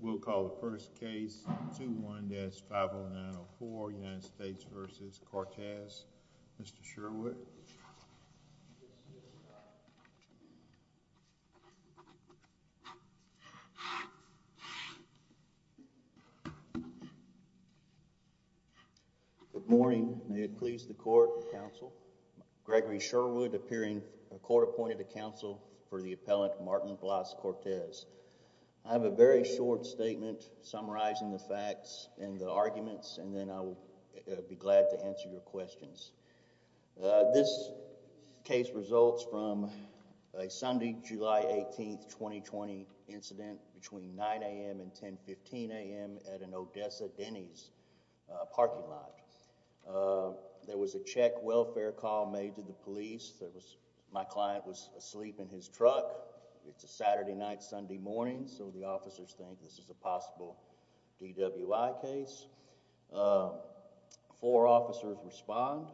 We'll call the first case 2-1-50904, United States v. Cortez, Mr. Sherwood, and then Mr. Sherwood. Good morning. May it please the court and counsel, Gregory Sherwood appearing court-appointed to counsel for the appellant, Martin Vlas Cortez. I have a very short statement summarizing the facts and the arguments, and then I'll be glad to answer your questions. This case results from a Sunday, July 18, 2020 incident between 9 a.m. and 10-15 a.m. at an Odessa Denny's parking lot. There was a check welfare call made to the police. My client was asleep in his truck. It's a Saturday night, Sunday morning, so the officers think this is a possible DWI case. Four officers respond.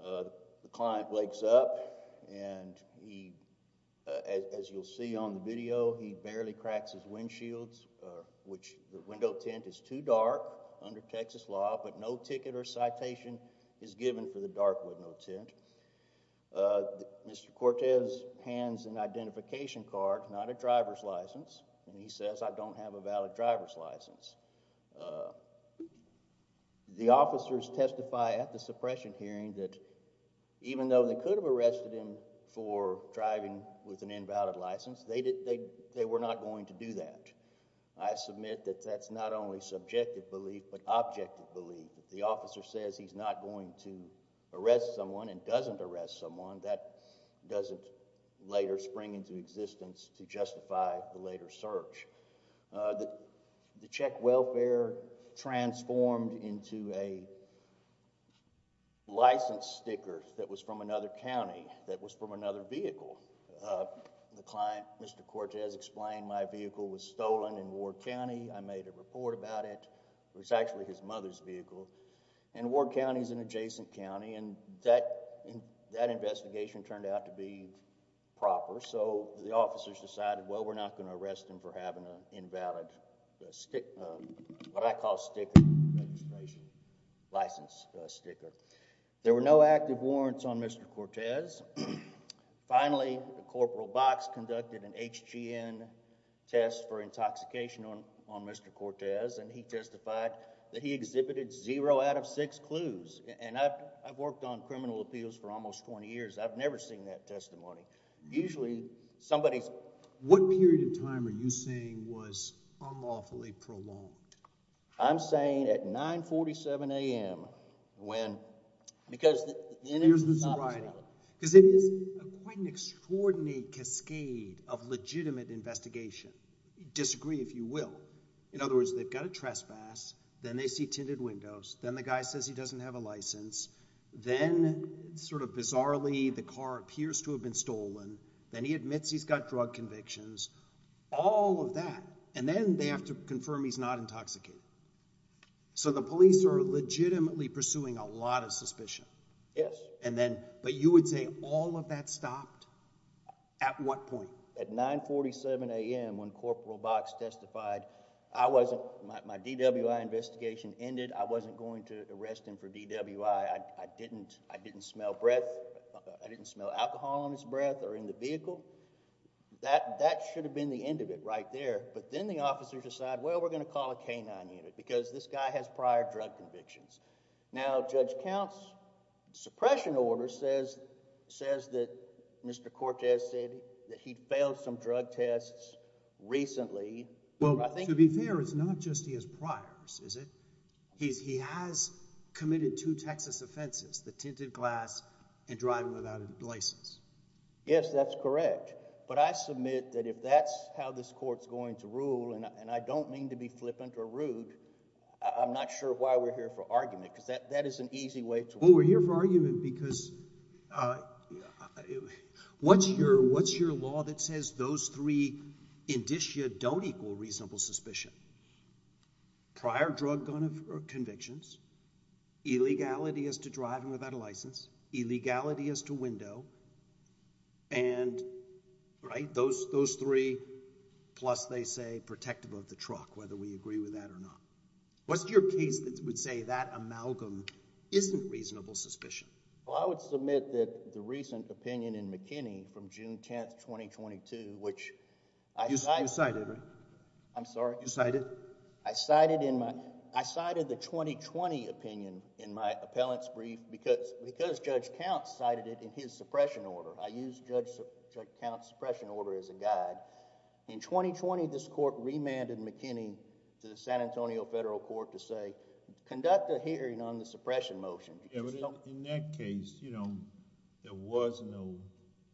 The client wakes up, and he, as you'll see on the video, he barely cracks his windshields, which the window tint is too dark under Texas law, but no ticket or citation is given for the dark window tint. Mr. Cortez hands an identification card, not a driver's license, and he says, I don't have a valid driver's license. The officers testify at the suppression hearing that even though they could have arrested him for driving with an invalid license, they were not going to do that. I submit that that's not only subjective belief, but objective belief. The officer says he's not going to arrest someone and doesn't arrest someone. That doesn't later spring into existence to justify the later search. The check welfare transformed into a license sticker that was from another county, that was from another vehicle. The client, Mr. Cortez, explained my vehicle was stolen in Ward County, I made a report about it. It was actually his mother's vehicle. And Ward County is an adjacent county, and that investigation turned out to be proper, so the officers decided, well, we're not going to arrest him for having an invalid, what I call sticker, license sticker. There were no active warrants on Mr. Cortez. Finally, Corporal Box conducted an HGN test for intoxication on Mr. Cortez, and he testified that he exhibited zero out of six clues. And I've worked on criminal appeals for almost 20 years, I've never seen that testimony. Usually somebody's... What period of time are you saying was unlawfully prolonged? I'm saying at 9.47 a.m. when... Because it is quite an extraordinary cascade of legitimate investigation, disagree if you will. In other words, they've got a trespass, then they see tinted windows, then the guy says he doesn't have a license, then sort of bizarrely the car appears to have been stolen, then he admits he's got drug convictions, all of that. And then they have to confirm he's not intoxicated. So the police are legitimately pursuing a lot of suspicion. Yes. And then, but you would say all of that stopped? At what point? At 9.47 a.m. when Corporal Box testified, I wasn't... my DWI investigation ended, I wasn't going to arrest him for DWI, I didn't smell breath, I didn't smell alcohol on his breath or in the vehicle, that should have been the end of it right there. But then the officers decide, well, we're going to call a K-9 unit because this guy has prior drug convictions. Now Judge Count's suppression order says that Mr. Cortez said that he failed some drug tests recently. Well, to be fair, it's not just he has priors, is it? He has committed two Texas offenses, the tinted glass and driving without a license. Yes, that's correct. But I submit that if that's how this court's going to rule, and I don't mean to be flippant or rude, I'm not sure why we're here for argument because that is an easy way to... Well, we're here for argument because what's your law that says those three indicia don't equal reasonable suspicion? Prior drug convictions, illegality as to driving without a license, illegality as to window, and, right, those three plus they say protective of the truck, whether we agree with that or not. What's your case that would say that amalgam isn't reasonable suspicion? Well, I would submit that the recent opinion in McKinney from June 10th, 2022, which... You cited, right? I'm sorry? You cited? I cited in my... I cited the 2020 opinion in my appellant's brief because Judge Count cited it in his suppression order. I used Judge Count's suppression order as a guide. In 2020, this court remanded McKinney to the San Antonio Federal Court to say, conduct a hearing on the suppression motion. In that case, there was no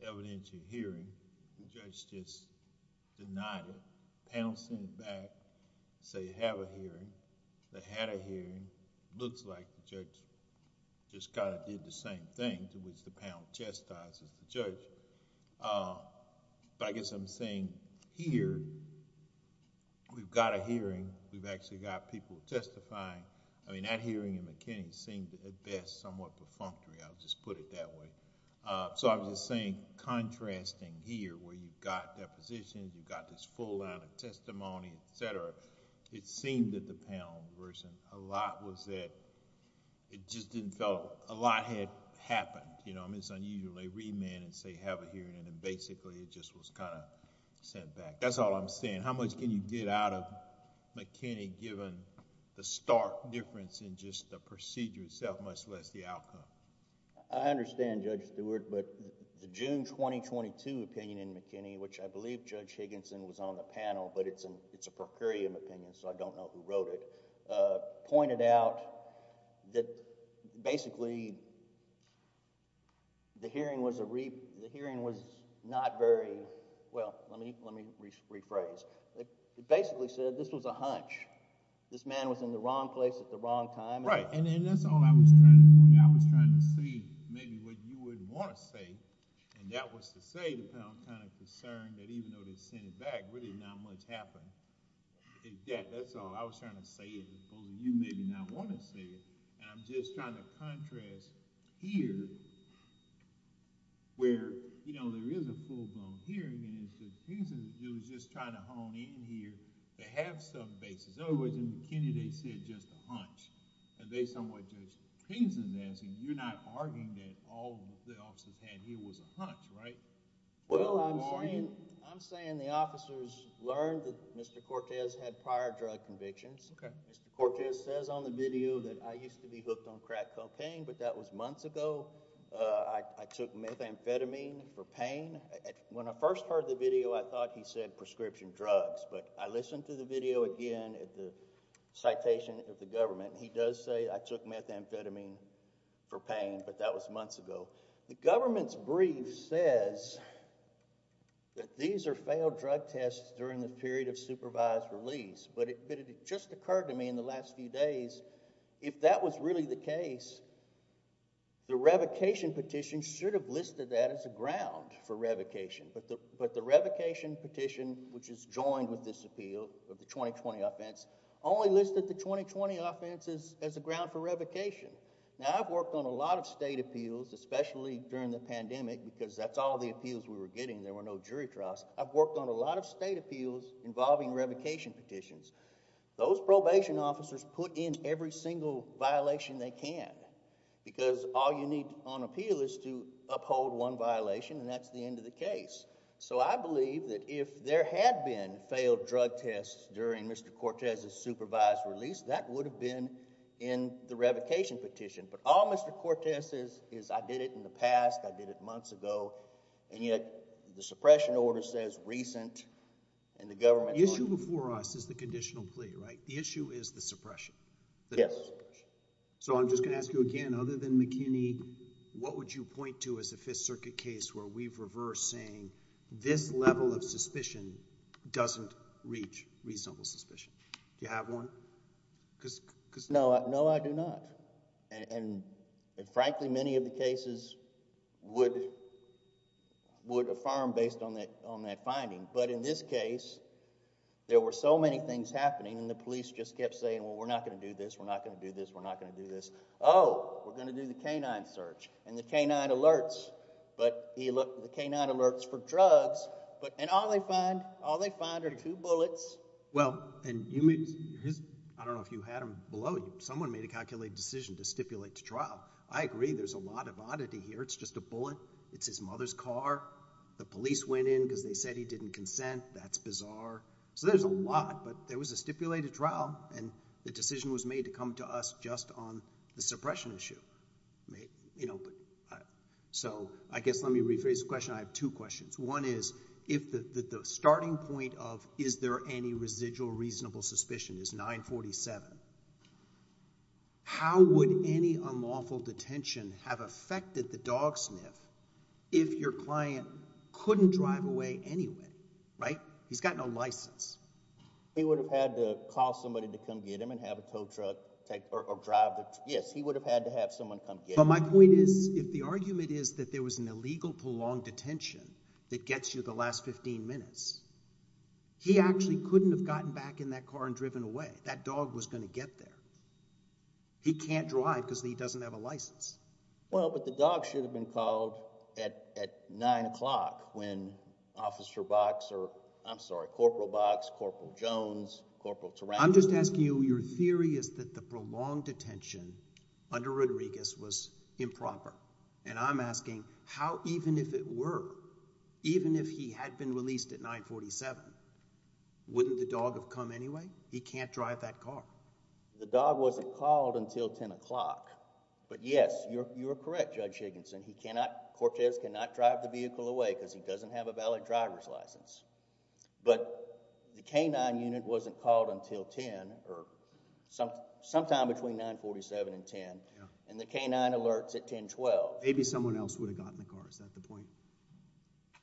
evidential hearing. The judge just denied it, pounced on the back, said, have a hearing. They had a hearing. It looks like the judge just kind of did the same thing to which the pound chastises the judge. I guess I'm saying here, we've got a hearing, we've actually got people testifying. I mean, that hearing in McKinney seemed, at best, somewhat perfunctory. I'll just put it that way. I was just saying contrasting here where you've got depositions, you've got this whole line of testimony, et cetera. It seemed that the pound version, a lot was that... it just didn't feel... a lot had happened. I mean, it's unusual. They remand and say, have a hearing. Basically, it just was kind of sent back. That's all I'm saying. How much can you get out of McKinney given the stark difference in just the procedure itself, much less the outcome? I understand, Judge Stewart, but the June 2022 opinion in McKinney, which I believe Judge Higginson was on the panel, but it's a procurium opinion so I don't know who wrote it, pointed out that basically the hearing was not very... well, let me rephrase. It basically said this was a hunch. This man was in the wrong place at the wrong time. That's all I was trying to point out. I was trying to see maybe what you would want to say, and that was to say the pound kind of concerned that even though they sent it back, really not much happened. That's all. I was trying to say it because you maybe not want to say it. I'm just trying to contrast here where there is a full-blown hearing and it's just Higginson was just trying to hone in here to have some basis. In other words, McKinney, they said it was just a hunch, and they somewhat judged Higginson's answer. You're not arguing that all the officers had here was a hunch, right? Well, I'm saying the officers learned that Mr. Cortez had prior drug convictions. Mr. Cortez says on the video that I used to be hooked on crack cocaine, but that was months ago. I took methamphetamine for pain. When I first heard the video, I thought he said prescription drugs, but I believe it was the citation of the government. He does say I took methamphetamine for pain, but that was months ago. The government's brief says that these are failed drug tests during the period of supervised release, but it just occurred to me in the last few days, if that was really the case, the revocation petition should have listed that as a ground for revocation, but the revocation petition, which is joined with this appeal of the 2020 offense, only listed the 2020 offenses as a ground for revocation. Now, I've worked on a lot of state appeals, especially during the pandemic, because that's all the appeals we were getting. There were no jury trials. I've worked on a lot of state appeals involving revocation petitions. Those probation officers put in every single violation they can, because all you need on appeal is to uphold one violation, and that's the end of the case. I believe that if there had been failed drug tests during Mr. Cortez's supervised release, that would have been in the revocation petition, but all Mr. Cortez says is I did it in the past, I did it months ago, and yet the suppression order says recent, and the government... The issue before us is the conditional plea, right? The issue is the suppression. Yes. I'm just going to ask you again, other than McKinney, what would you point to as a Fifth Circuit case where we've reversed saying this level of suspicion doesn't reach reasonable suspicion? Do you have one? No, I do not. Frankly, many of the cases would affirm based on that finding, but in this case, there were so many things happening and the police just kept saying, well, we're not going to do this, we're not going to do this, we're not going to do this. Oh, we're going to do the K-9 search and the K-9 alerts, but the K-9 alerts for drugs, and all they find are two bullets. Well, and I don't know if you had them below you. Someone made a calculated decision to stipulate to trial. I agree there's a lot of oddity here. It's just a bullet. It's his mother's car. The police went in because they said he didn't consent. That's bizarre. So there's a lot, but there was a stipulated trial, and the decision was the suppression issue. So I guess let me rephrase the question. I have two questions. One is, if the starting point of is there any residual reasonable suspicion is 947, how would any unlawful detention have affected the dog sniff if your client couldn't drive away anyway, right? He's got no license. He would have had to call somebody to come get him and have a tow truck or drive. Yes, he would have had to have someone come get him. But my point is, if the argument is that there was an illegal prolonged detention that gets you the last 15 minutes, he actually couldn't have gotten back in that car and driven away. That dog was going to get there. He can't drive because he doesn't have a license. Well, but the dog should have been called at 9 o'clock when Officer Box or, I'm sorry, Corporal Box, Corporal Jones, Corporal Tarango. I'm just asking you, your theory is that the prolonged detention under Rodriguez was improper. And I'm asking how even if it were, even if he had been released at 947, wouldn't the dog have come anyway? He can't drive that car. The dog wasn't called until 10 o'clock. But yes, you're correct, Judge Higginson. He cannot, Cortez cannot drive the vehicle away because he doesn't have a valid driver's license. But the K-9 unit wasn't called until 10 or sometime between 947 and 10. And the K-9 alerts at 1012. Maybe someone else would have gotten the car. Is that the point?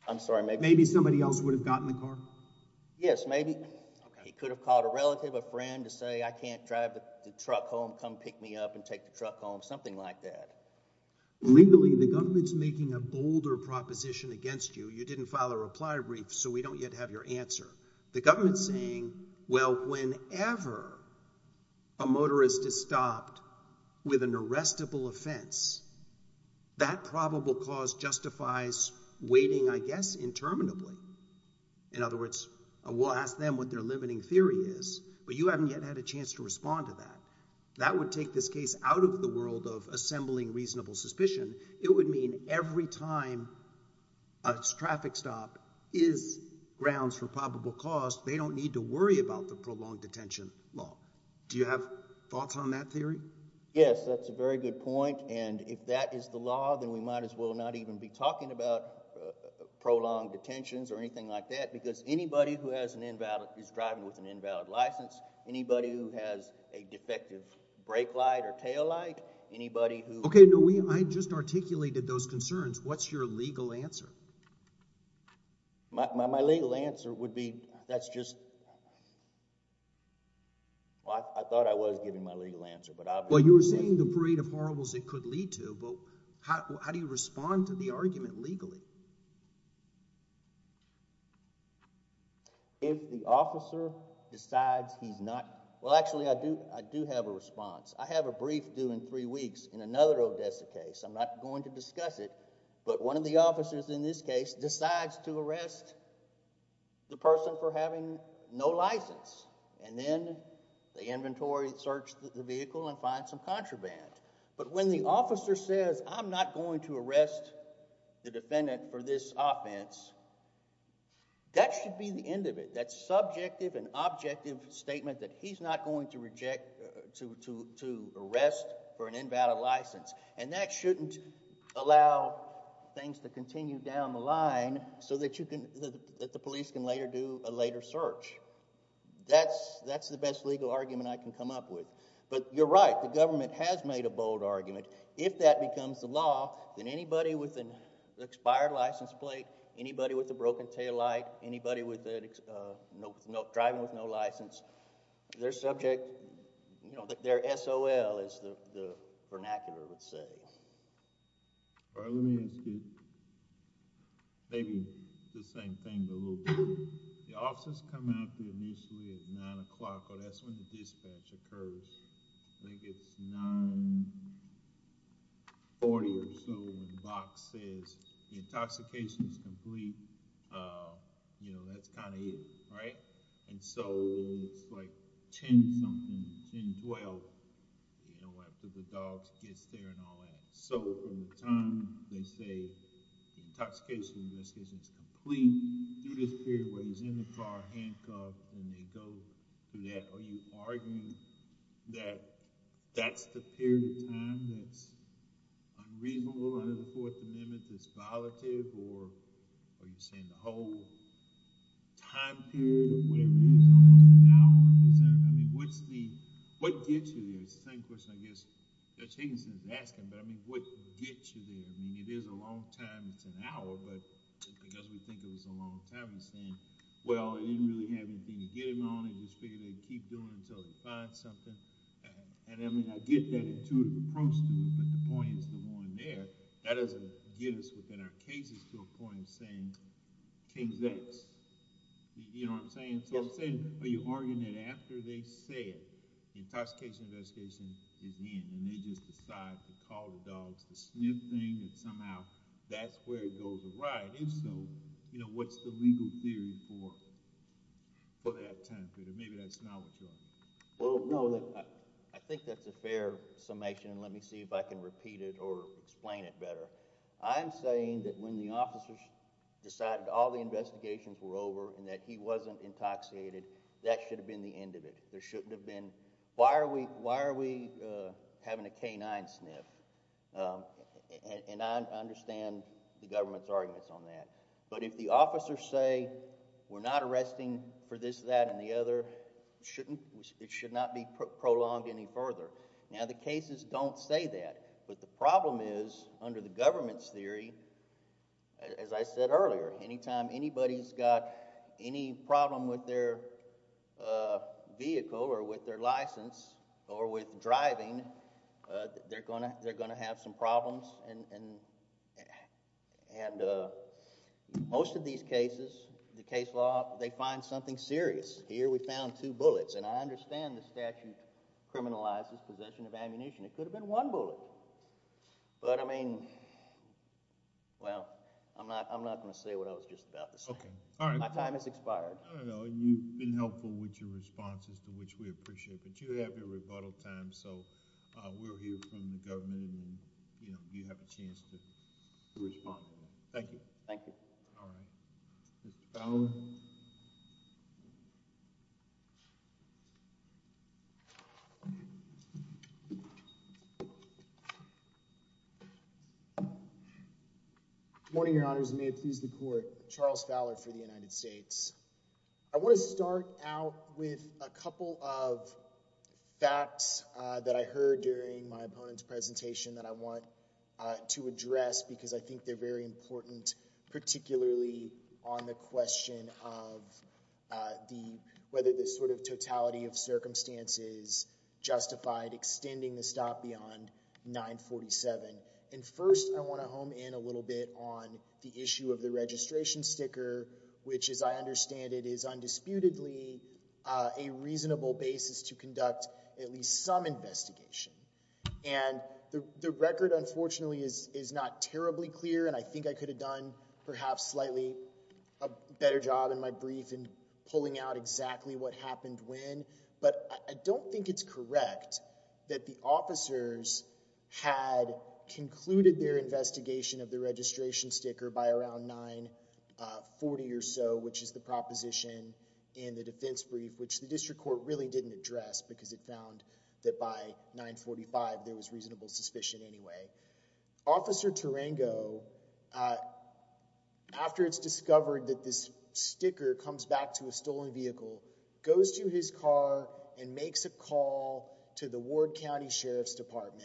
I'm sorry, maybe. Maybe somebody else would have gotten the car? Yes, maybe. He could have called a relative, a friend to say, I can't drive the truck home. Come pick me up and take the truck home. Something like that. Legally, the government's making a bolder proposition against you. You didn't file a reply brief, so we don't yet have your answer. The government's saying, well, whenever a motorist is stopped with an arrestable offense, that probable cause justifies waiting, I guess, interminably. In other words, we'll ask them what their limiting theory is, but you haven't yet had a chance to respond to that. That would take this case out of the world of assembling reasonable suspicion. It would mean every time a traffic stop is grounds for probable cause, they don't need to worry about the prolonged detention law. Do you have thoughts on that theory? Yes, that's a very good point. And if that is the law, then we might as well not even be talking about prolonged detentions or anything like that, because anybody who is driving with an invalid license, anybody who has a defective brake light or tail light, anybody who— Okay, no, I just articulated those concerns. What's your legal answer? My legal answer would be that's just— I thought I was giving my legal answer, but— Well, you were saying the parade of horribles it could lead to, but how do you respond to the argument legally? If the officer decides he's not— Well, actually, I do have a response. I have a brief due in three weeks in another Odessa case. I'm not going to discuss it, but one of the officers in this case decides to arrest the person for having no license, and then the inventory searched the vehicle and finds some contraband. But when the officer says, I'm not going to arrest the defendant for this offense, that should be the end of it, that subjective and objective statement that he's not going to arrest for an invalid license, and that shouldn't allow things to continue down the line so that the police can later do a later search. That's the best legal argument I can come up with. But you're right. The government has made a bold argument. If that becomes the law, then anybody with an expired license plate, anybody with a broken taillight, anybody driving with no license, their subject—their SOL is the vernacular, let's say. All right, let me ask you maybe the same thing, but a little different. The officers come out to the muesli at 9 o'clock, or that's when the dispatch occurs. I think it's 9.40 or so, when the box says the intoxication is complete, that's kind of it, right? And so it's like 10-something, 10.12, after the dog gets there and all that. So from the time they say the intoxication decision is complete, through this period where he's in the car handcuffed, and they go through that, are you arguing that that's the period of time that's unreasonable under the Fourth Amendment, that's violative, or are you saying the whole time period, or whatever it is, almost an hour, I mean, what gets you there? It's the same question, I guess, Judge Higginson is asking, but I mean, what gets you there? I mean, it is a long time, it's an hour, but because we think it was a long time, he's saying, well, they didn't really have anything to get him on, they just figured they'd keep doing it until they find something. And I mean, I get that intuitive approach to it, but the point is the one there, that doesn't get us within our cases to a point of saying, King's X, you know what I'm saying? So I'm saying, are you arguing that after they say it, the intoxication investigation is in, and they just decide to call the dogs, the sniffing, and somehow that's where it goes awry, and if so, what's the legal theory for that time period? Maybe that's not what you're arguing. Well, no, I think that's a fair summation, and let me see if I can repeat it or explain it better. I'm saying that when the officers decided all the investigations were over and that he wasn't intoxicated, that should have been the end of it. There shouldn't have been, why are we having a canine sniff? And I understand the government's arguments on that. But if the officers say, we're not arresting for this, that, and the other, it should not be prolonged any further. Now, the cases don't say that, but the problem is, under the government's theory, as I said earlier, anytime anybody's got any problem with their vehicle or with their license or with driving, they're going to have some problems. And most of these cases, the case law, they find something serious. Here we found two bullets. And I understand the statute criminalizes possession of ammunition. It could have been one bullet. But, I mean, well, I'm not going to say what I was just about to say. My time has expired. I don't know. You've been helpful with your responses, which we appreciate. But you have your rebuttal time, so we'll hear from the government and you have a chance to respond. Thank you. Thank you. All right. Mr. Fowler. Good morning, Your Honors. May it please the Court. Charles Fowler for the United States. I want to start out with a couple of facts that I heard during my opponent's presentation that I want to address because I think they're very important, particularly on the question of whether the sort of totality of circumstances justified extending the stop beyond 947. And first I want to home in a little bit on the issue of the registration sticker, which, as I understand it, is undisputedly a reasonable basis to conduct at least some investigation. And the record, unfortunately, is not terribly clear, and I think I could have done perhaps slightly a better job in my brief in pulling out exactly what happened when. But I don't think it's correct that the officers had concluded their investigation of the registration sticker by around 940 or so, which is the proposition in the defense brief, which the district court really didn't address because it found that by 945 there was reasonable suspicion anyway. Officer Tarango, after it's discovered that this sticker comes back to a stolen vehicle, goes to his car and makes a call to the Ward County Sheriff's Department.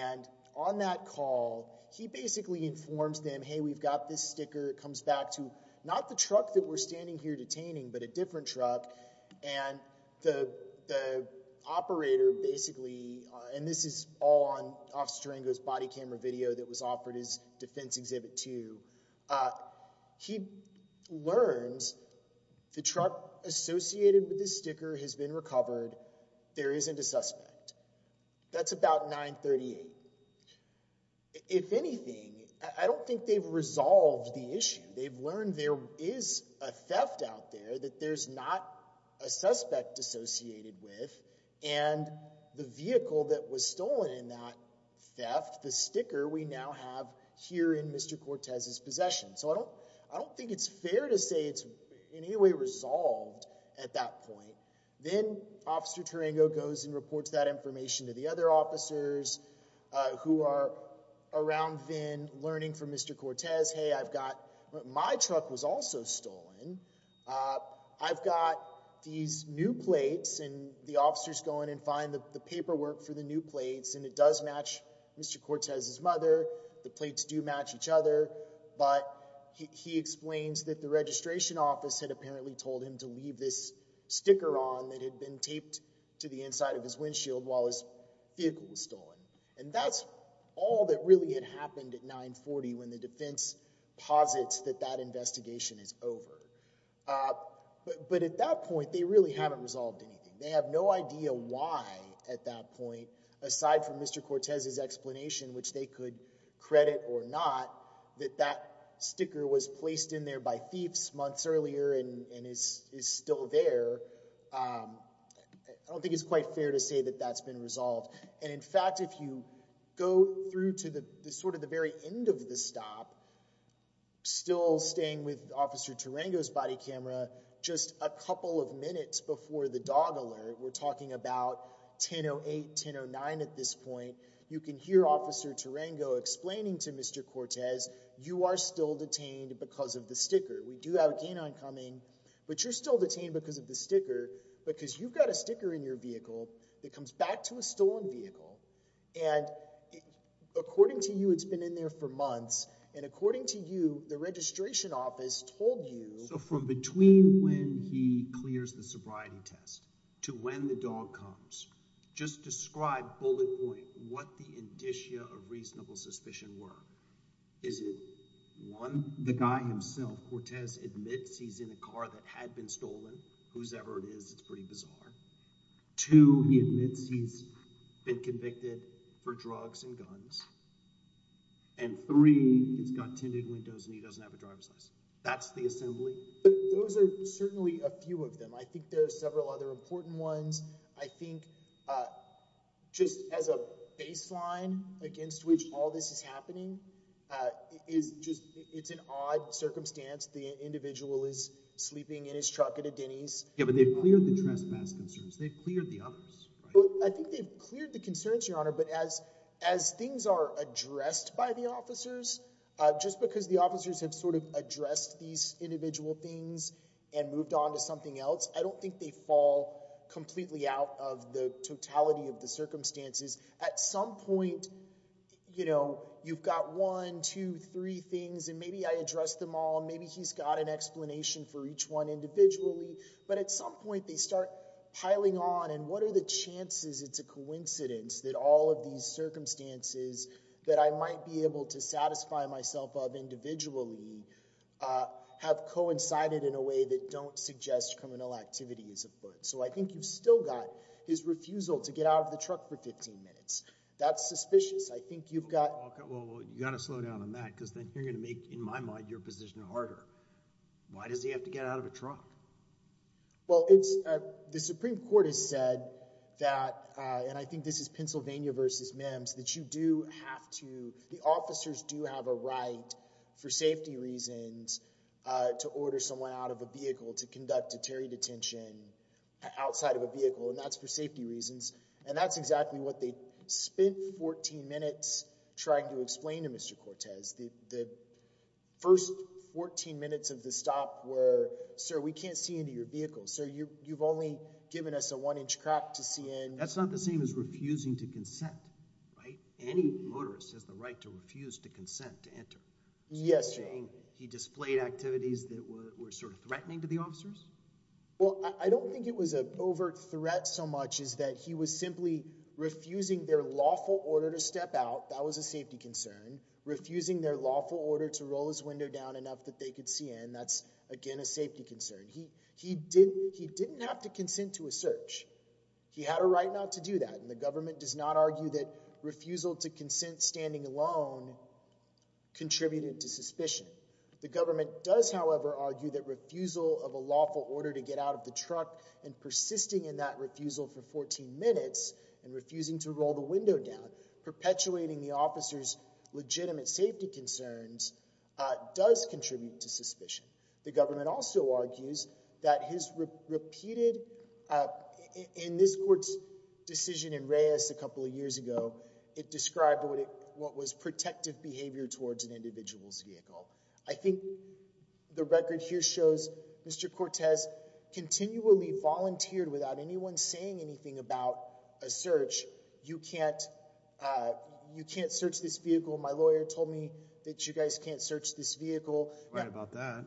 And on that call, he basically informs them, hey, we've got this sticker. It comes back to not the truck that we're standing here detaining but a different truck, and the operator basically, and this is all on Officer Tarango's body camera video that was offered his defense exhibit to, he learns the truck associated with this sticker has been recovered. There isn't a suspect. That's about 938. If anything, I don't think they've resolved the issue. They've learned there is a theft out there that there's not a suspect associated with, and the vehicle that was stolen in that theft, the sticker we now have here in Mr. Cortez's possession. So I don't think it's fair to say it's in any way resolved at that point. Then Officer Tarango goes and reports that information to the other officers who are around then learning from Mr. Cortez, hey, I've got my truck was also stolen. I've got these new plates, and the officers go in and find the paperwork for the new plates, and it does match Mr. Cortez's mother. The plates do match each other, but he explains that the registration office had apparently told him to leave this sticker on that had been taped to the inside of his windshield while his vehicle was stolen. And that's all that really had happened at 940 when the defense posits that that investigation is over. But at that point, they really haven't resolved anything. They have no idea why at that point, aside from Mr. Cortez's explanation, which they could credit or not, that that sticker was placed in there by thieves months earlier and is still there. I don't think it's quite fair to say that that's been resolved. And in fact, if you go through to the sort of the very end of the stop, still staying with Officer Tarango's body camera, just a couple of minutes before the dog alert, we're talking about 10-08, 10-09 at this point, you can hear Officer Tarango explaining to Mr. Cortez, you are still detained because of the sticker. We do have a canine coming, but you're still detained because of the sticker, because you've got a sticker in your vehicle that comes back to a stolen vehicle. And according to you, it's been in there for months. And according to you, the registration office told you— So from between when he clears the sobriety test to when the dog comes, just describe, bullet point, what the indicia of reasonable suspicion were. Is it one, the guy himself, Cortez, admits he's in a car that had been stolen, whosoever it is, it's pretty bizarre. Two, he admits he's been convicted for drugs and guns. And three, he's got tinted windows and he doesn't have a driver's license. That's the assembly. Those are certainly a few of them. I think there are several other important ones. I think just as a baseline against which all this is happening, it's an odd circumstance. The individual is sleeping in his truck at a Denny's. Yeah, but they've cleared the trespass concerns. They've cleared the others. I think they've cleared the concerns, Your Honor. But as things are addressed by the officers, just because the officers have sort of addressed these individual things and moved on to something else, I don't think they fall completely out of the totality of the circumstances. At some point, you know, you've got one, two, three things, and maybe I addressed them all. Maybe he's got an explanation for each one individually. But at some point, they start piling on, and what are the chances it's a coincidence that all of these circumstances that I might be able to satisfy myself of individually have coincided in a way that don't suggest criminal activity is afoot. So I think you've still got his refusal to get out of the truck for 15 minutes. That's suspicious. I think you've got— In my mind, you're positioned harder. Why does he have to get out of a truck? Well, the Supreme Court has said that— and I think this is Pennsylvania v. Mims— that you do have to— the officers do have a right for safety reasons to order someone out of a vehicle, to conduct a Terry detention outside of a vehicle, and that's for safety reasons. And that's exactly what they spent 14 minutes trying to explain to Mr. Cortez. The first 14 minutes of the stop were, Sir, we can't see into your vehicle. Sir, you've only given us a one-inch crack to see in. That's not the same as refusing to consent, right? Any motorist has the right to refuse to consent to enter. Yes, Your Honor. He displayed activities that were sort of threatening to the officers? Well, I don't think it was an overt threat so much as that he was simply refusing their lawful order to step out. That was a safety concern. Refusing their lawful order to roll his window down enough that they could see in, that's, again, a safety concern. He didn't have to consent to a search. He had a right not to do that, and the government does not argue that refusal to consent standing alone contributed to suspicion. The government does, however, argue that refusal of a lawful order to get out of the truck, and persisting in that refusal for 14 minutes, and refusing to roll the window down, perpetuating the officer's legitimate safety concerns, does contribute to suspicion. The government also argues that his repeated, in this court's decision in Reyes a couple of years ago, it described what was protective behavior towards an individual's vehicle. I think the record here shows Mr. Cortez continually volunteered without anyone saying anything about a search. You can't, you can't search this vehicle. My lawyer told me that you guys can't search this vehicle. Right about that.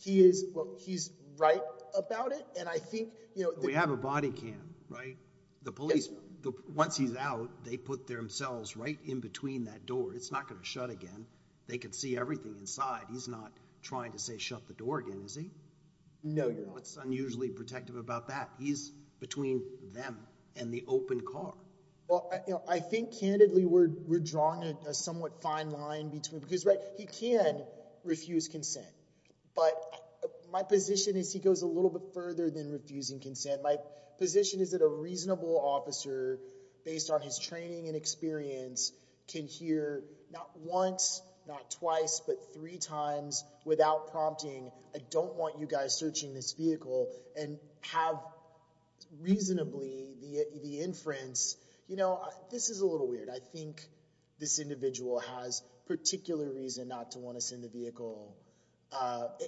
He is, well, he's right about it, and I think, you know. We have a body cam, right? The police, once he's out, they put themselves right in between that door. It's not going to shut again. They can see everything inside. He's not trying to say shut the door again, is he? No, Your Honor. What's unusually protective about that? He's between them and the open car. Well, I think candidly we're drawing a somewhat fine line between, because he can refuse consent, but my position is he goes a little bit further than refusing consent. My position is that a reasonable officer, based on his training and experience, can hear not once, not twice, but three times without prompting, I don't want you guys searching this vehicle, and have reasonably the inference, you know. This is a little weird. I think this individual has particular reason not to want to send the vehicle,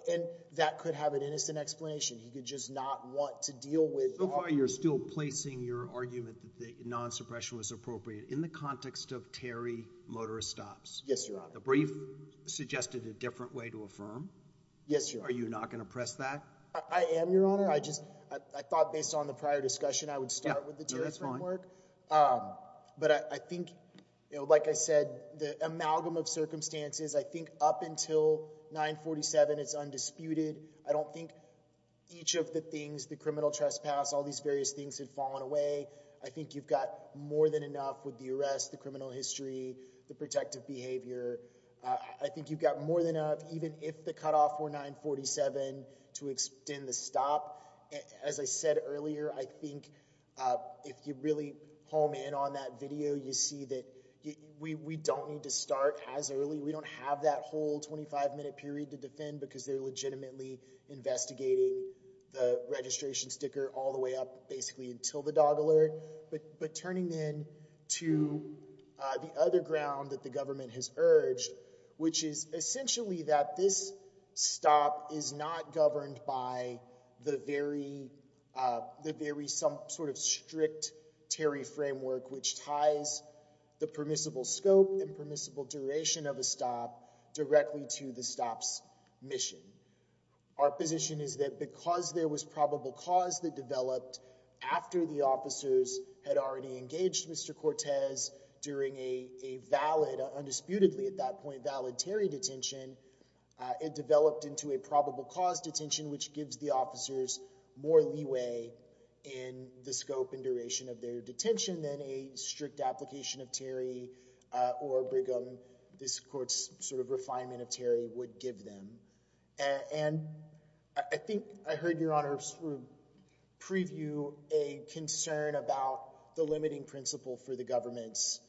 and that could have an innocent explanation. He could just not want to deal with. So far you're still placing your argument that non-suppression was appropriate in the context of Terry Motorist Stops. Yes, Your Honor. The brief suggested a different way to affirm. Yes, Your Honor. Are you not going to press that? I am, Your Honor. I thought based on the prior discussion I would start with the terrorist framework. But I think, like I said, the amalgam of circumstances, I think up until 947 it's undisputed. I don't think each of the things, the criminal trespass, all these various things had fallen away. I think you've got more than enough with the arrest, the criminal history, the protective behavior. I think you've got more than enough, even if the cutoff were 947 to extend the stop. As I said earlier, I think if you really home in on that video, you see that we don't need to start as early. We don't have that whole 25-minute period to defend because they're legitimately investigating the registration sticker all the way up basically until the dog alert. But turning then to the other ground that the government has urged, which is essentially that this stop is not governed by the very sort of strict Terry framework which ties the permissible scope and permissible duration of a stop directly to the stop's mission. Our position is that because there was probable cause that developed after the officers had already engaged Mr. Cortez during a valid, undisputedly at that point, valid Terry detention, it developed into a probable cause detention which gives the officers more leeway in the scope and duration of their detention than a strict application of Terry or Brigham, this court's sort of refinement of Terry, would give them. And I think I heard Your Honor sort of preview a concern about the limiting principle for the government's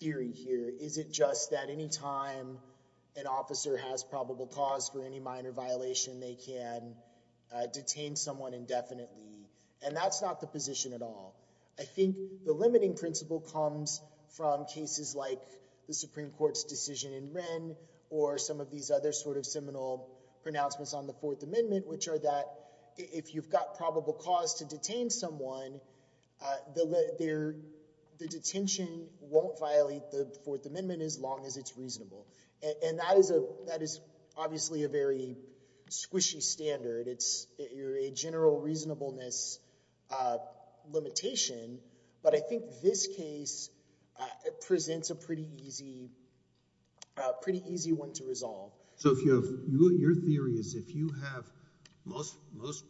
theory here. Is it just that any time an officer has probable cause for any minor violation, they can detain someone indefinitely? And that's not the position at all. I think the limiting principle comes from cases like the Supreme Court's decision in Wren or some of these other sort of seminal pronouncements on the Fourth Amendment which are that if you've got probable cause to detain someone, the detention won't violate the Fourth Amendment as long as it's reasonable. And that is obviously a very squishy standard. It's a general reasonableness limitation. But I think this case presents a pretty easy one to resolve. So if you have, your theory is if you have most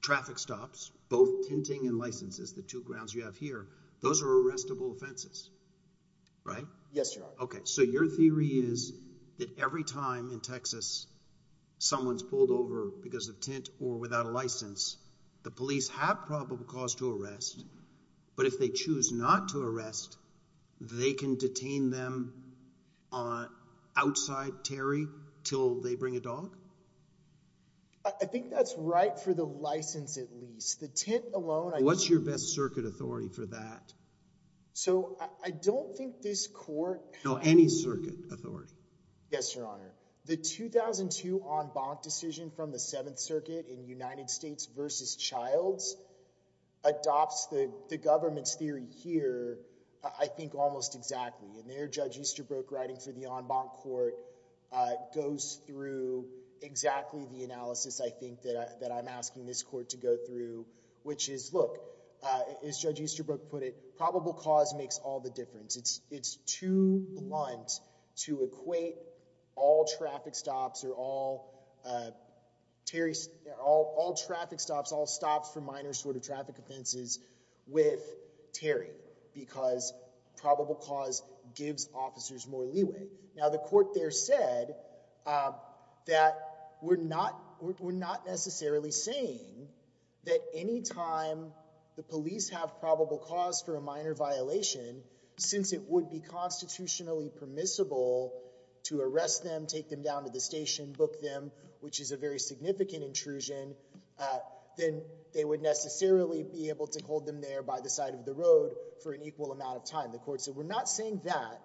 traffic stops, both tinting and licenses, the two grounds you have here, those are arrestable offenses, right? Yes, Your Honor. Okay. So your theory is that every time in Texas someone's pulled over because of tint or without a license, the police have probable cause to arrest, but if they choose not to arrest, they can detain them outside Terry till they bring a dog? I think that's right for the license at least. The tint alone— What's your best circuit authority for that? So I don't think this court— No, any circuit authority. Yes, Your Honor. The 2002 en banc decision from the Seventh Circuit in United States versus Childs adopts the government's theory here I think almost exactly. And there Judge Easterbrook writing for the en banc court goes through exactly the analysis I think that I'm asking this court to go through, which is, look, as Judge Easterbrook put it, probable cause makes all the difference. It's too blunt to equate all traffic stops or all Terry— all traffic stops, all stops for minor sort of traffic offenses with Terry because probable cause gives officers more leeway. Now the court there said that we're not necessarily saying that any time the police have probable cause for a minor violation, since it would be constitutionally permissible to arrest them, take them down to the station, book them, which is a very significant intrusion, then they would necessarily be able to hold them there by the side of the road for an equal amount of time. The court said we're not saying that.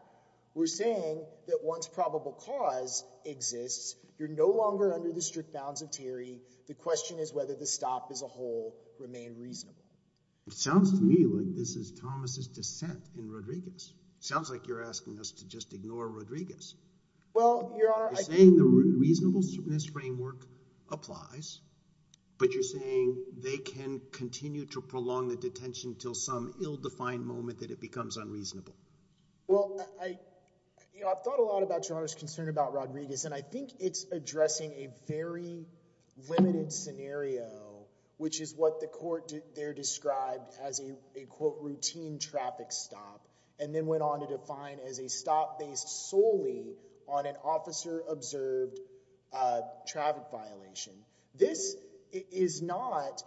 We're saying that once probable cause exists, you're no longer under the strict bounds of Terry. The question is whether the stop as a whole remained reasonable. It sounds to me like this is Thomas's dissent in Rodriguez. It sounds like you're asking us to just ignore Rodriguez. Well, Your Honor— You're saying the reasonableness framework applies, but you're saying they can continue to prolong the detention until some ill-defined moment that it becomes unreasonable. Well, I've thought a lot about Your Honor's concern about Rodriguez, and I think it's addressing a very limited scenario, which is what the court there described as a, quote, routine traffic stop, and then went on to define as a stop based solely on an officer-observed traffic violation. This is not—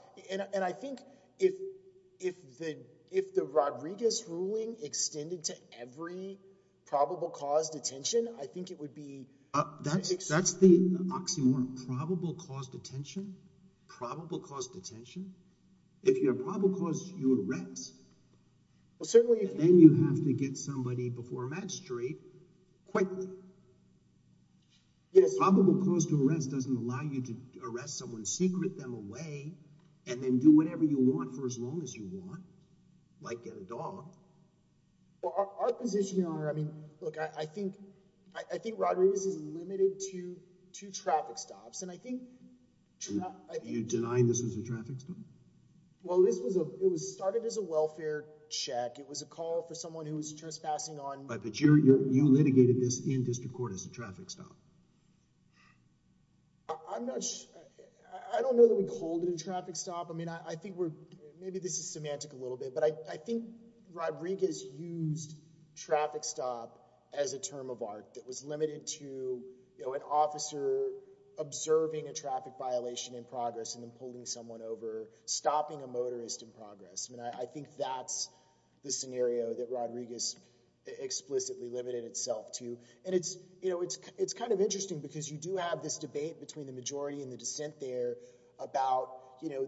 If the Rodriguez ruling extended to every probable cause detention, I think it would be— That's the oxymoron. Probable cause detention? Probable cause detention? If you have probable cause to arrest, then you have to get somebody before a magistrate quickly. Probable cause to arrest doesn't allow you to arrest someone, and then do whatever you want for as long as you want, like get a dog. Our position, Your Honor— Look, I think Rodriguez is limited to two traffic stops, and I think— You're denying this is a traffic stop? Well, this was— It was started as a welfare check. It was a call for someone who was trespassing on— But you litigated this in district court as a traffic stop. I'm not— I don't know that we called it a traffic stop. I mean, I think we're— Maybe this is semantic a little bit, but I think Rodriguez used traffic stop as a term of art that was limited to an officer observing a traffic violation in progress and then pulling someone over, stopping a motorist in progress. I mean, I think that's the scenario that Rodriguez explicitly limited itself to, and it's kind of interesting because you do have this debate between the majority and the dissent there about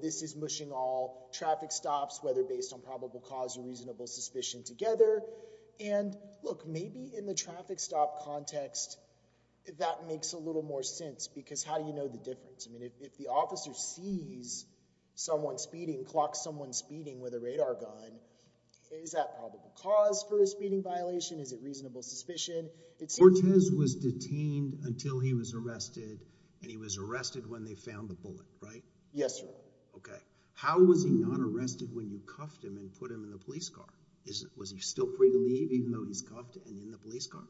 this is mushing all traffic stops, whether based on probable cause or reasonable suspicion, together, and look, maybe in the traffic stop context, that makes a little more sense because how do you know the difference? I mean, if the officer sees someone speeding, clocks someone speeding with a radar gun, is that probable cause for a speeding violation? Is it reasonable suspicion? Cortez was detained until he was arrested, and he was arrested when they found the bullet, right? Yes, sir. Okay. How was he not arrested when you cuffed him and put him in the police car? Was he still free to leave even though he's cuffed and in the police car?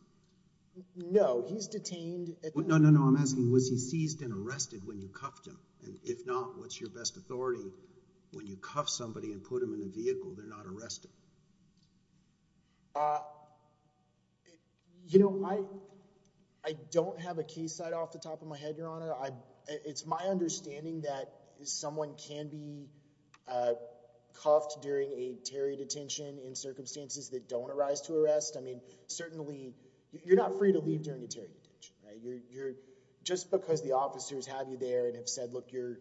No, he's detained— No, no, no, I'm asking, was he seized and arrested when you cuffed him? And if not, what's your best authority when you cuff somebody and put them in a vehicle they're not arrested? You know, I don't have a case right off the top of my head, Your Honor. It's my understanding that someone can be cuffed during a Terry detention in circumstances that don't arise to arrest. I mean, certainly, you're not free to leave during a Terry detention, right? Just because the officers have you there and have said, look, you're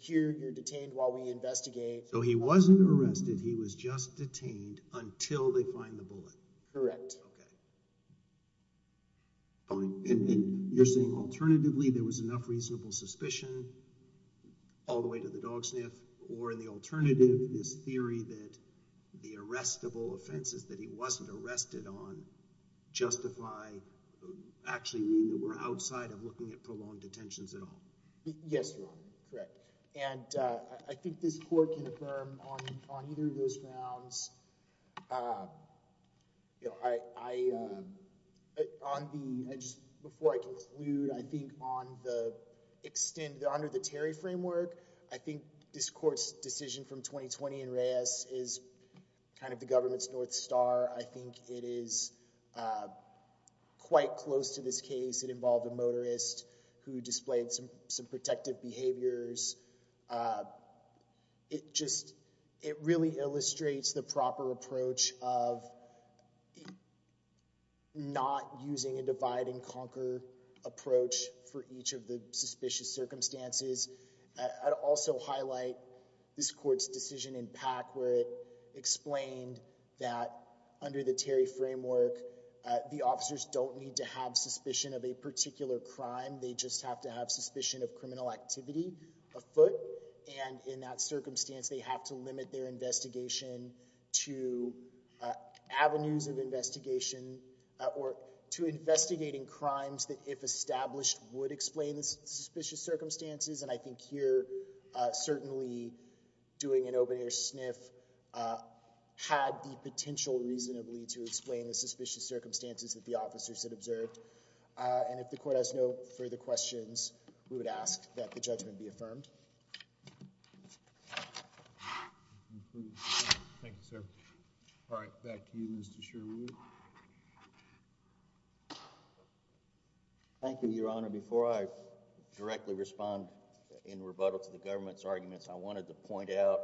here, you're detained while we investigate— So he wasn't arrested, he was just detained until they find the bullet? Correct. Okay. Fine. And you're saying, alternatively, there was enough reasonable suspicion all the way to the dog sniff, or in the alternative, this theory that the arrestable offenses that he wasn't arrested on justify— actually mean that we're outside of looking at prolonged detentions at all? Yes, Your Honor, correct. And I think this court can affirm on either of those grounds. Before I conclude, I think under the Terry framework, I think this court's decision from 2020 in Reyes is kind of the government's North Star. I think it is quite close to this case. It involved a motorist who displayed some protective behaviors. It really illustrates the proper approach of not using a divide-and-conquer approach for each of the suspicious circumstances. I'd also highlight this court's decision in Pack where it explained that under the Terry framework, the officers don't need to have suspicion of a particular crime, they just have to have suspicion of criminal activity afoot. And in that circumstance, they have to limit their investigation to avenues of investigation or to investigating crimes that, if established, would explain the suspicious circumstances. And I think here, certainly doing an open-air sniff had the potential reasonably to explain the suspicious circumstances that the officers had observed. And if the court has no further questions, we would ask that the judgment be affirmed. Thank you, sir. All right, back to you, Mr. Sherwood. Thank you, Your Honor. Before I directly respond in rebuttal to the government's arguments, I wanted to point out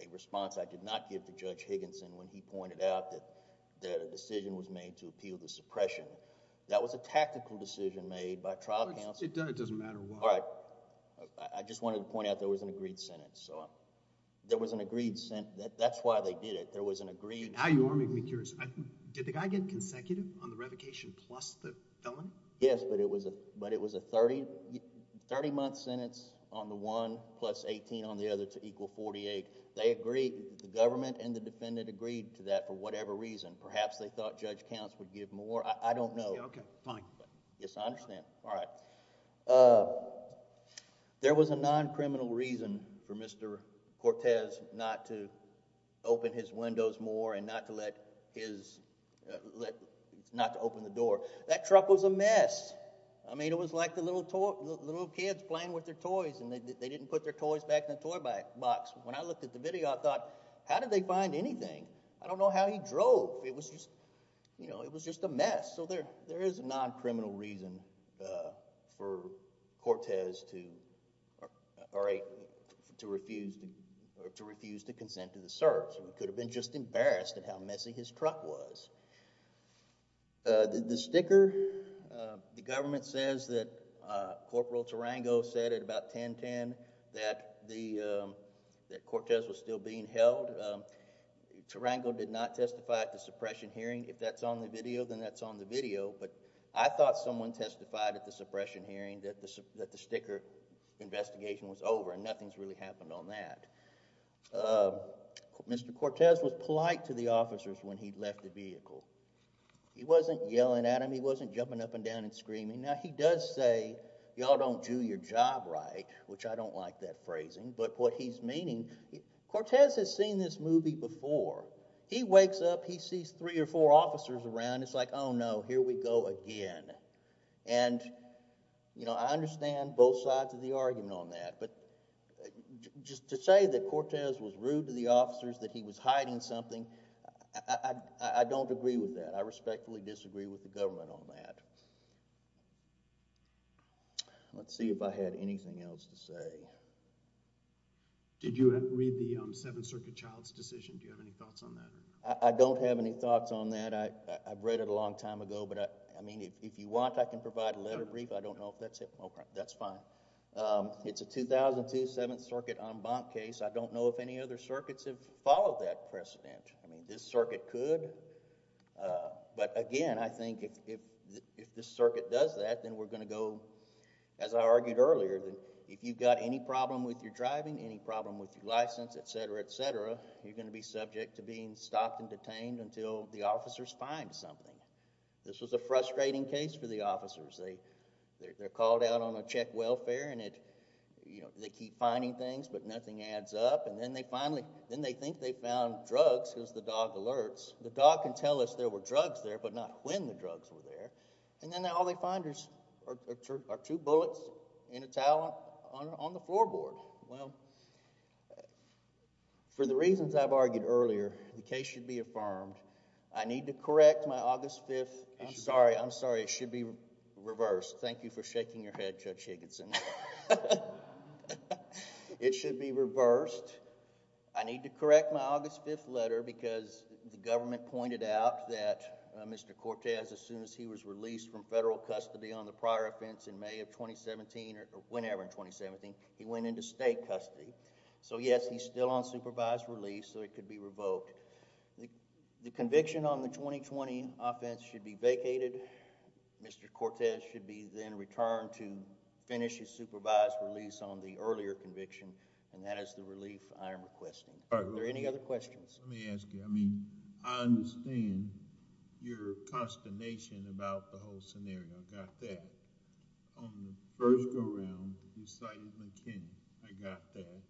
a response I did not give to Judge Higginson when he pointed out that a decision was made to appeal the suppression. That was a tactical decision made by trial counsel. It doesn't matter why. All right. I just wanted to point out there was an agreed sentence. There was an agreed sentence. That's why they did it. There was an agreed sentence. Now you are making me curious. Did the guy get consecutive on the revocation plus the felon? Yes, but it was a 30-month sentence on the one plus 18 on the other to equal 48. They agreed. The government and the defendant agreed to that for whatever reason. Perhaps they thought Judge Counts would give more. I don't know. Okay, fine. Yes, I understand. All right. There was a non-criminal reason for Mr. Cortez not to open his windows more and not to open the door. That truck was a mess. I mean, it was like the little kids playing with their toys and they didn't put their toys back in the toy box. When I looked at the video, I thought, how did they find anything? I don't know how he drove. It was just a mess. So there is a non-criminal reason for Cortez to refuse to consent to the search. He could have been just embarrassed at how messy his truck was. The sticker, the government says that Corporal Tarango said at about 10.10 that Cortez was still being held. Tarango did not testify at the suppression hearing. If that's on the video, then that's on the video. But I thought someone testified at the suppression hearing that the sticker investigation was over and nothing's really happened on that. Mr. Cortez was polite to the officers when he left the vehicle. He wasn't yelling at them. He wasn't jumping up and down and screaming. Now, he does say, y'all don't do your job right, which I don't like that phrasing. But what he's meaning, Cortez has seen this movie before. He wakes up, he sees three or four officers around. And it's like, oh no, here we go again. And I understand both sides of the argument on that. But just to say that Cortez was rude to the officers, that he was hiding something, I don't agree with that. I respectfully disagree with the government on that. Let's see if I had anything else to say. Did you read the Seventh Circuit child's decision? Do you have any thoughts on that? I don't have any thoughts on that. I mean, I've read it a long time ago. But I mean, if you want, I can provide a letter brief. I don't know if that's it. Okay, that's fine. It's a 2002 Seventh Circuit en banc case. I don't know if any other circuits have followed that precedent. I mean, this circuit could. But again, I think if this circuit does that, then we're going to go, as I argued earlier, if you've got any problem with your driving, any problem with your license, et cetera, et cetera, you're going to be subject to being stopped and detained until the officers find something. This was a frustrating case for the officers. They're called out on a check welfare, and they keep finding things, but nothing adds up. And then they think they found drugs because the dog alerts. The dog can tell us there were drugs there, but not when the drugs were there. And then all they find are two bullets and a towel on the floorboard. Well, for the reasons I've argued earlier, the case should be affirmed. I need to correct my August 5th. I'm sorry, I'm sorry, it should be reversed. Thank you for shaking your head, Judge Higginson. It should be reversed. I need to correct my August 5th letter because the government pointed out that Mr. Cortez, as soon as he was released from federal custody on the prior offense in May of 2017, or whenever in 2017, he went into state custody. So yes, he's still on supervised release, so he could be revoked. The conviction on the 2020 offense should be vacated. Mr. Cortez should be then returned to finish his supervised release on the earlier conviction, and that is the relief I am requesting. Are there any other questions? Let me ask you. I mean, I understand your consternation about the whole scenario. I got that. On the first go-round, you cited McKinney. I got that.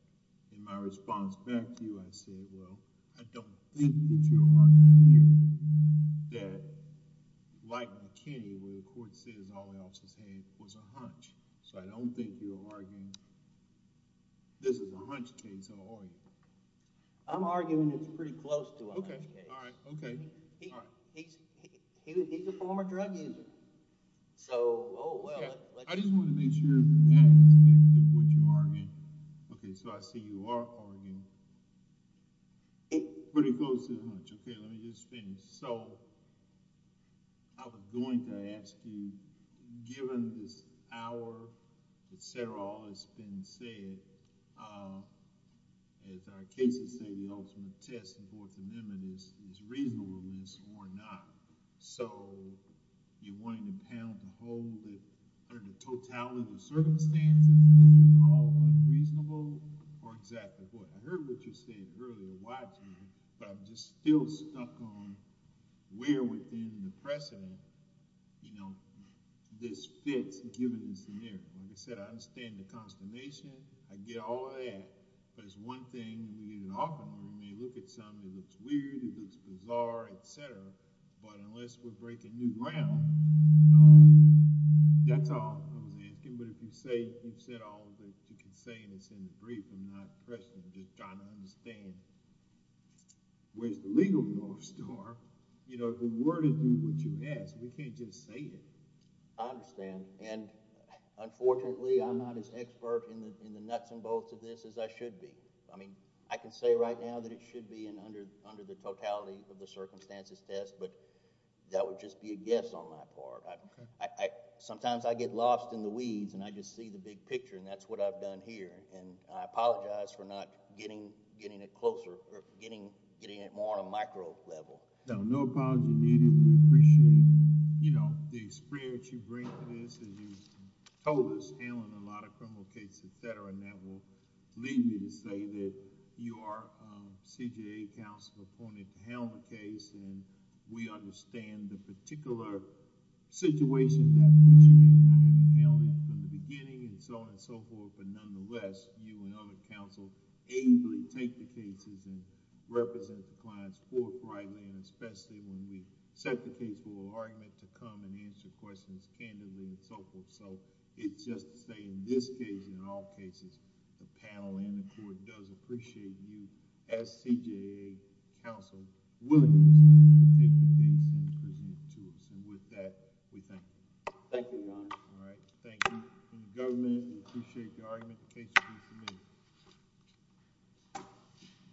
In my response back to you, I said, well, I don't think that you're arguing that, like McKinney, where the court says all else is hay, was a hunch. So I don't think you're arguing this is a hunch case at all. I'm arguing it's pretty close to a hunch case. Okay, all right, okay. He's a former drug user. So, oh, well. I just want to make sure from that aspect of what you're arguing. Okay, so I see you are arguing it's pretty close to a hunch. Okay, let me just finish. So I was going to ask you, given this hour, et cetera, all that's been said, as our cases say, the ultimate test of orthonymity is reasonableness or not. So you're wanting the panel to hold it under the totality of circumstances that is all unreasonable or exactly what? I heard what you said earlier a wide time, but I'm just still stuck on where within the precedent, you know, this fits, given the scenario. Like I said, I understand the consternation. I get all of that. But it's one thing we offer them. We may look at something that looks weird, it looks bizarre, et cetera, but unless we break a new ground, that's all I was asking. But if you've said all of the consanguinous in the brief and not precedent, just trying to understand where's the legal north star, you know, the word is what you ask. We can't just say it. I understand. And unfortunately, I'm not as expert in the nuts and bolts of this as I should be. I mean, I can say right now that it should be under the totality of the circumstances test, but that would just be a guess on my part. Sometimes I get lost in the weeds and I just see the big picture, and that's what I've done here. And I apologize for not getting it closer or getting it more on a micro level. No, no apology needed. We appreciate, you know, the experience you bring to this. And that will lead me to say that you are CJA counsel appointed to handle the case and we understand the particular situation that you may not have handled from the beginning and so on and so forth, but nonetheless, you and other counsel ably take the cases and represent the clients forthrightly and especially when we set the case for an argument to come and answer questions candidly and so forth. So it's just to say in this case and all cases, the panel and the court does appreciate you as CJA counsel willing to take the case and present it to us. And with that, we thank you. Thank you, Your Honor. All right, thank you. And the government, we appreciate the argument. The case will be submitted.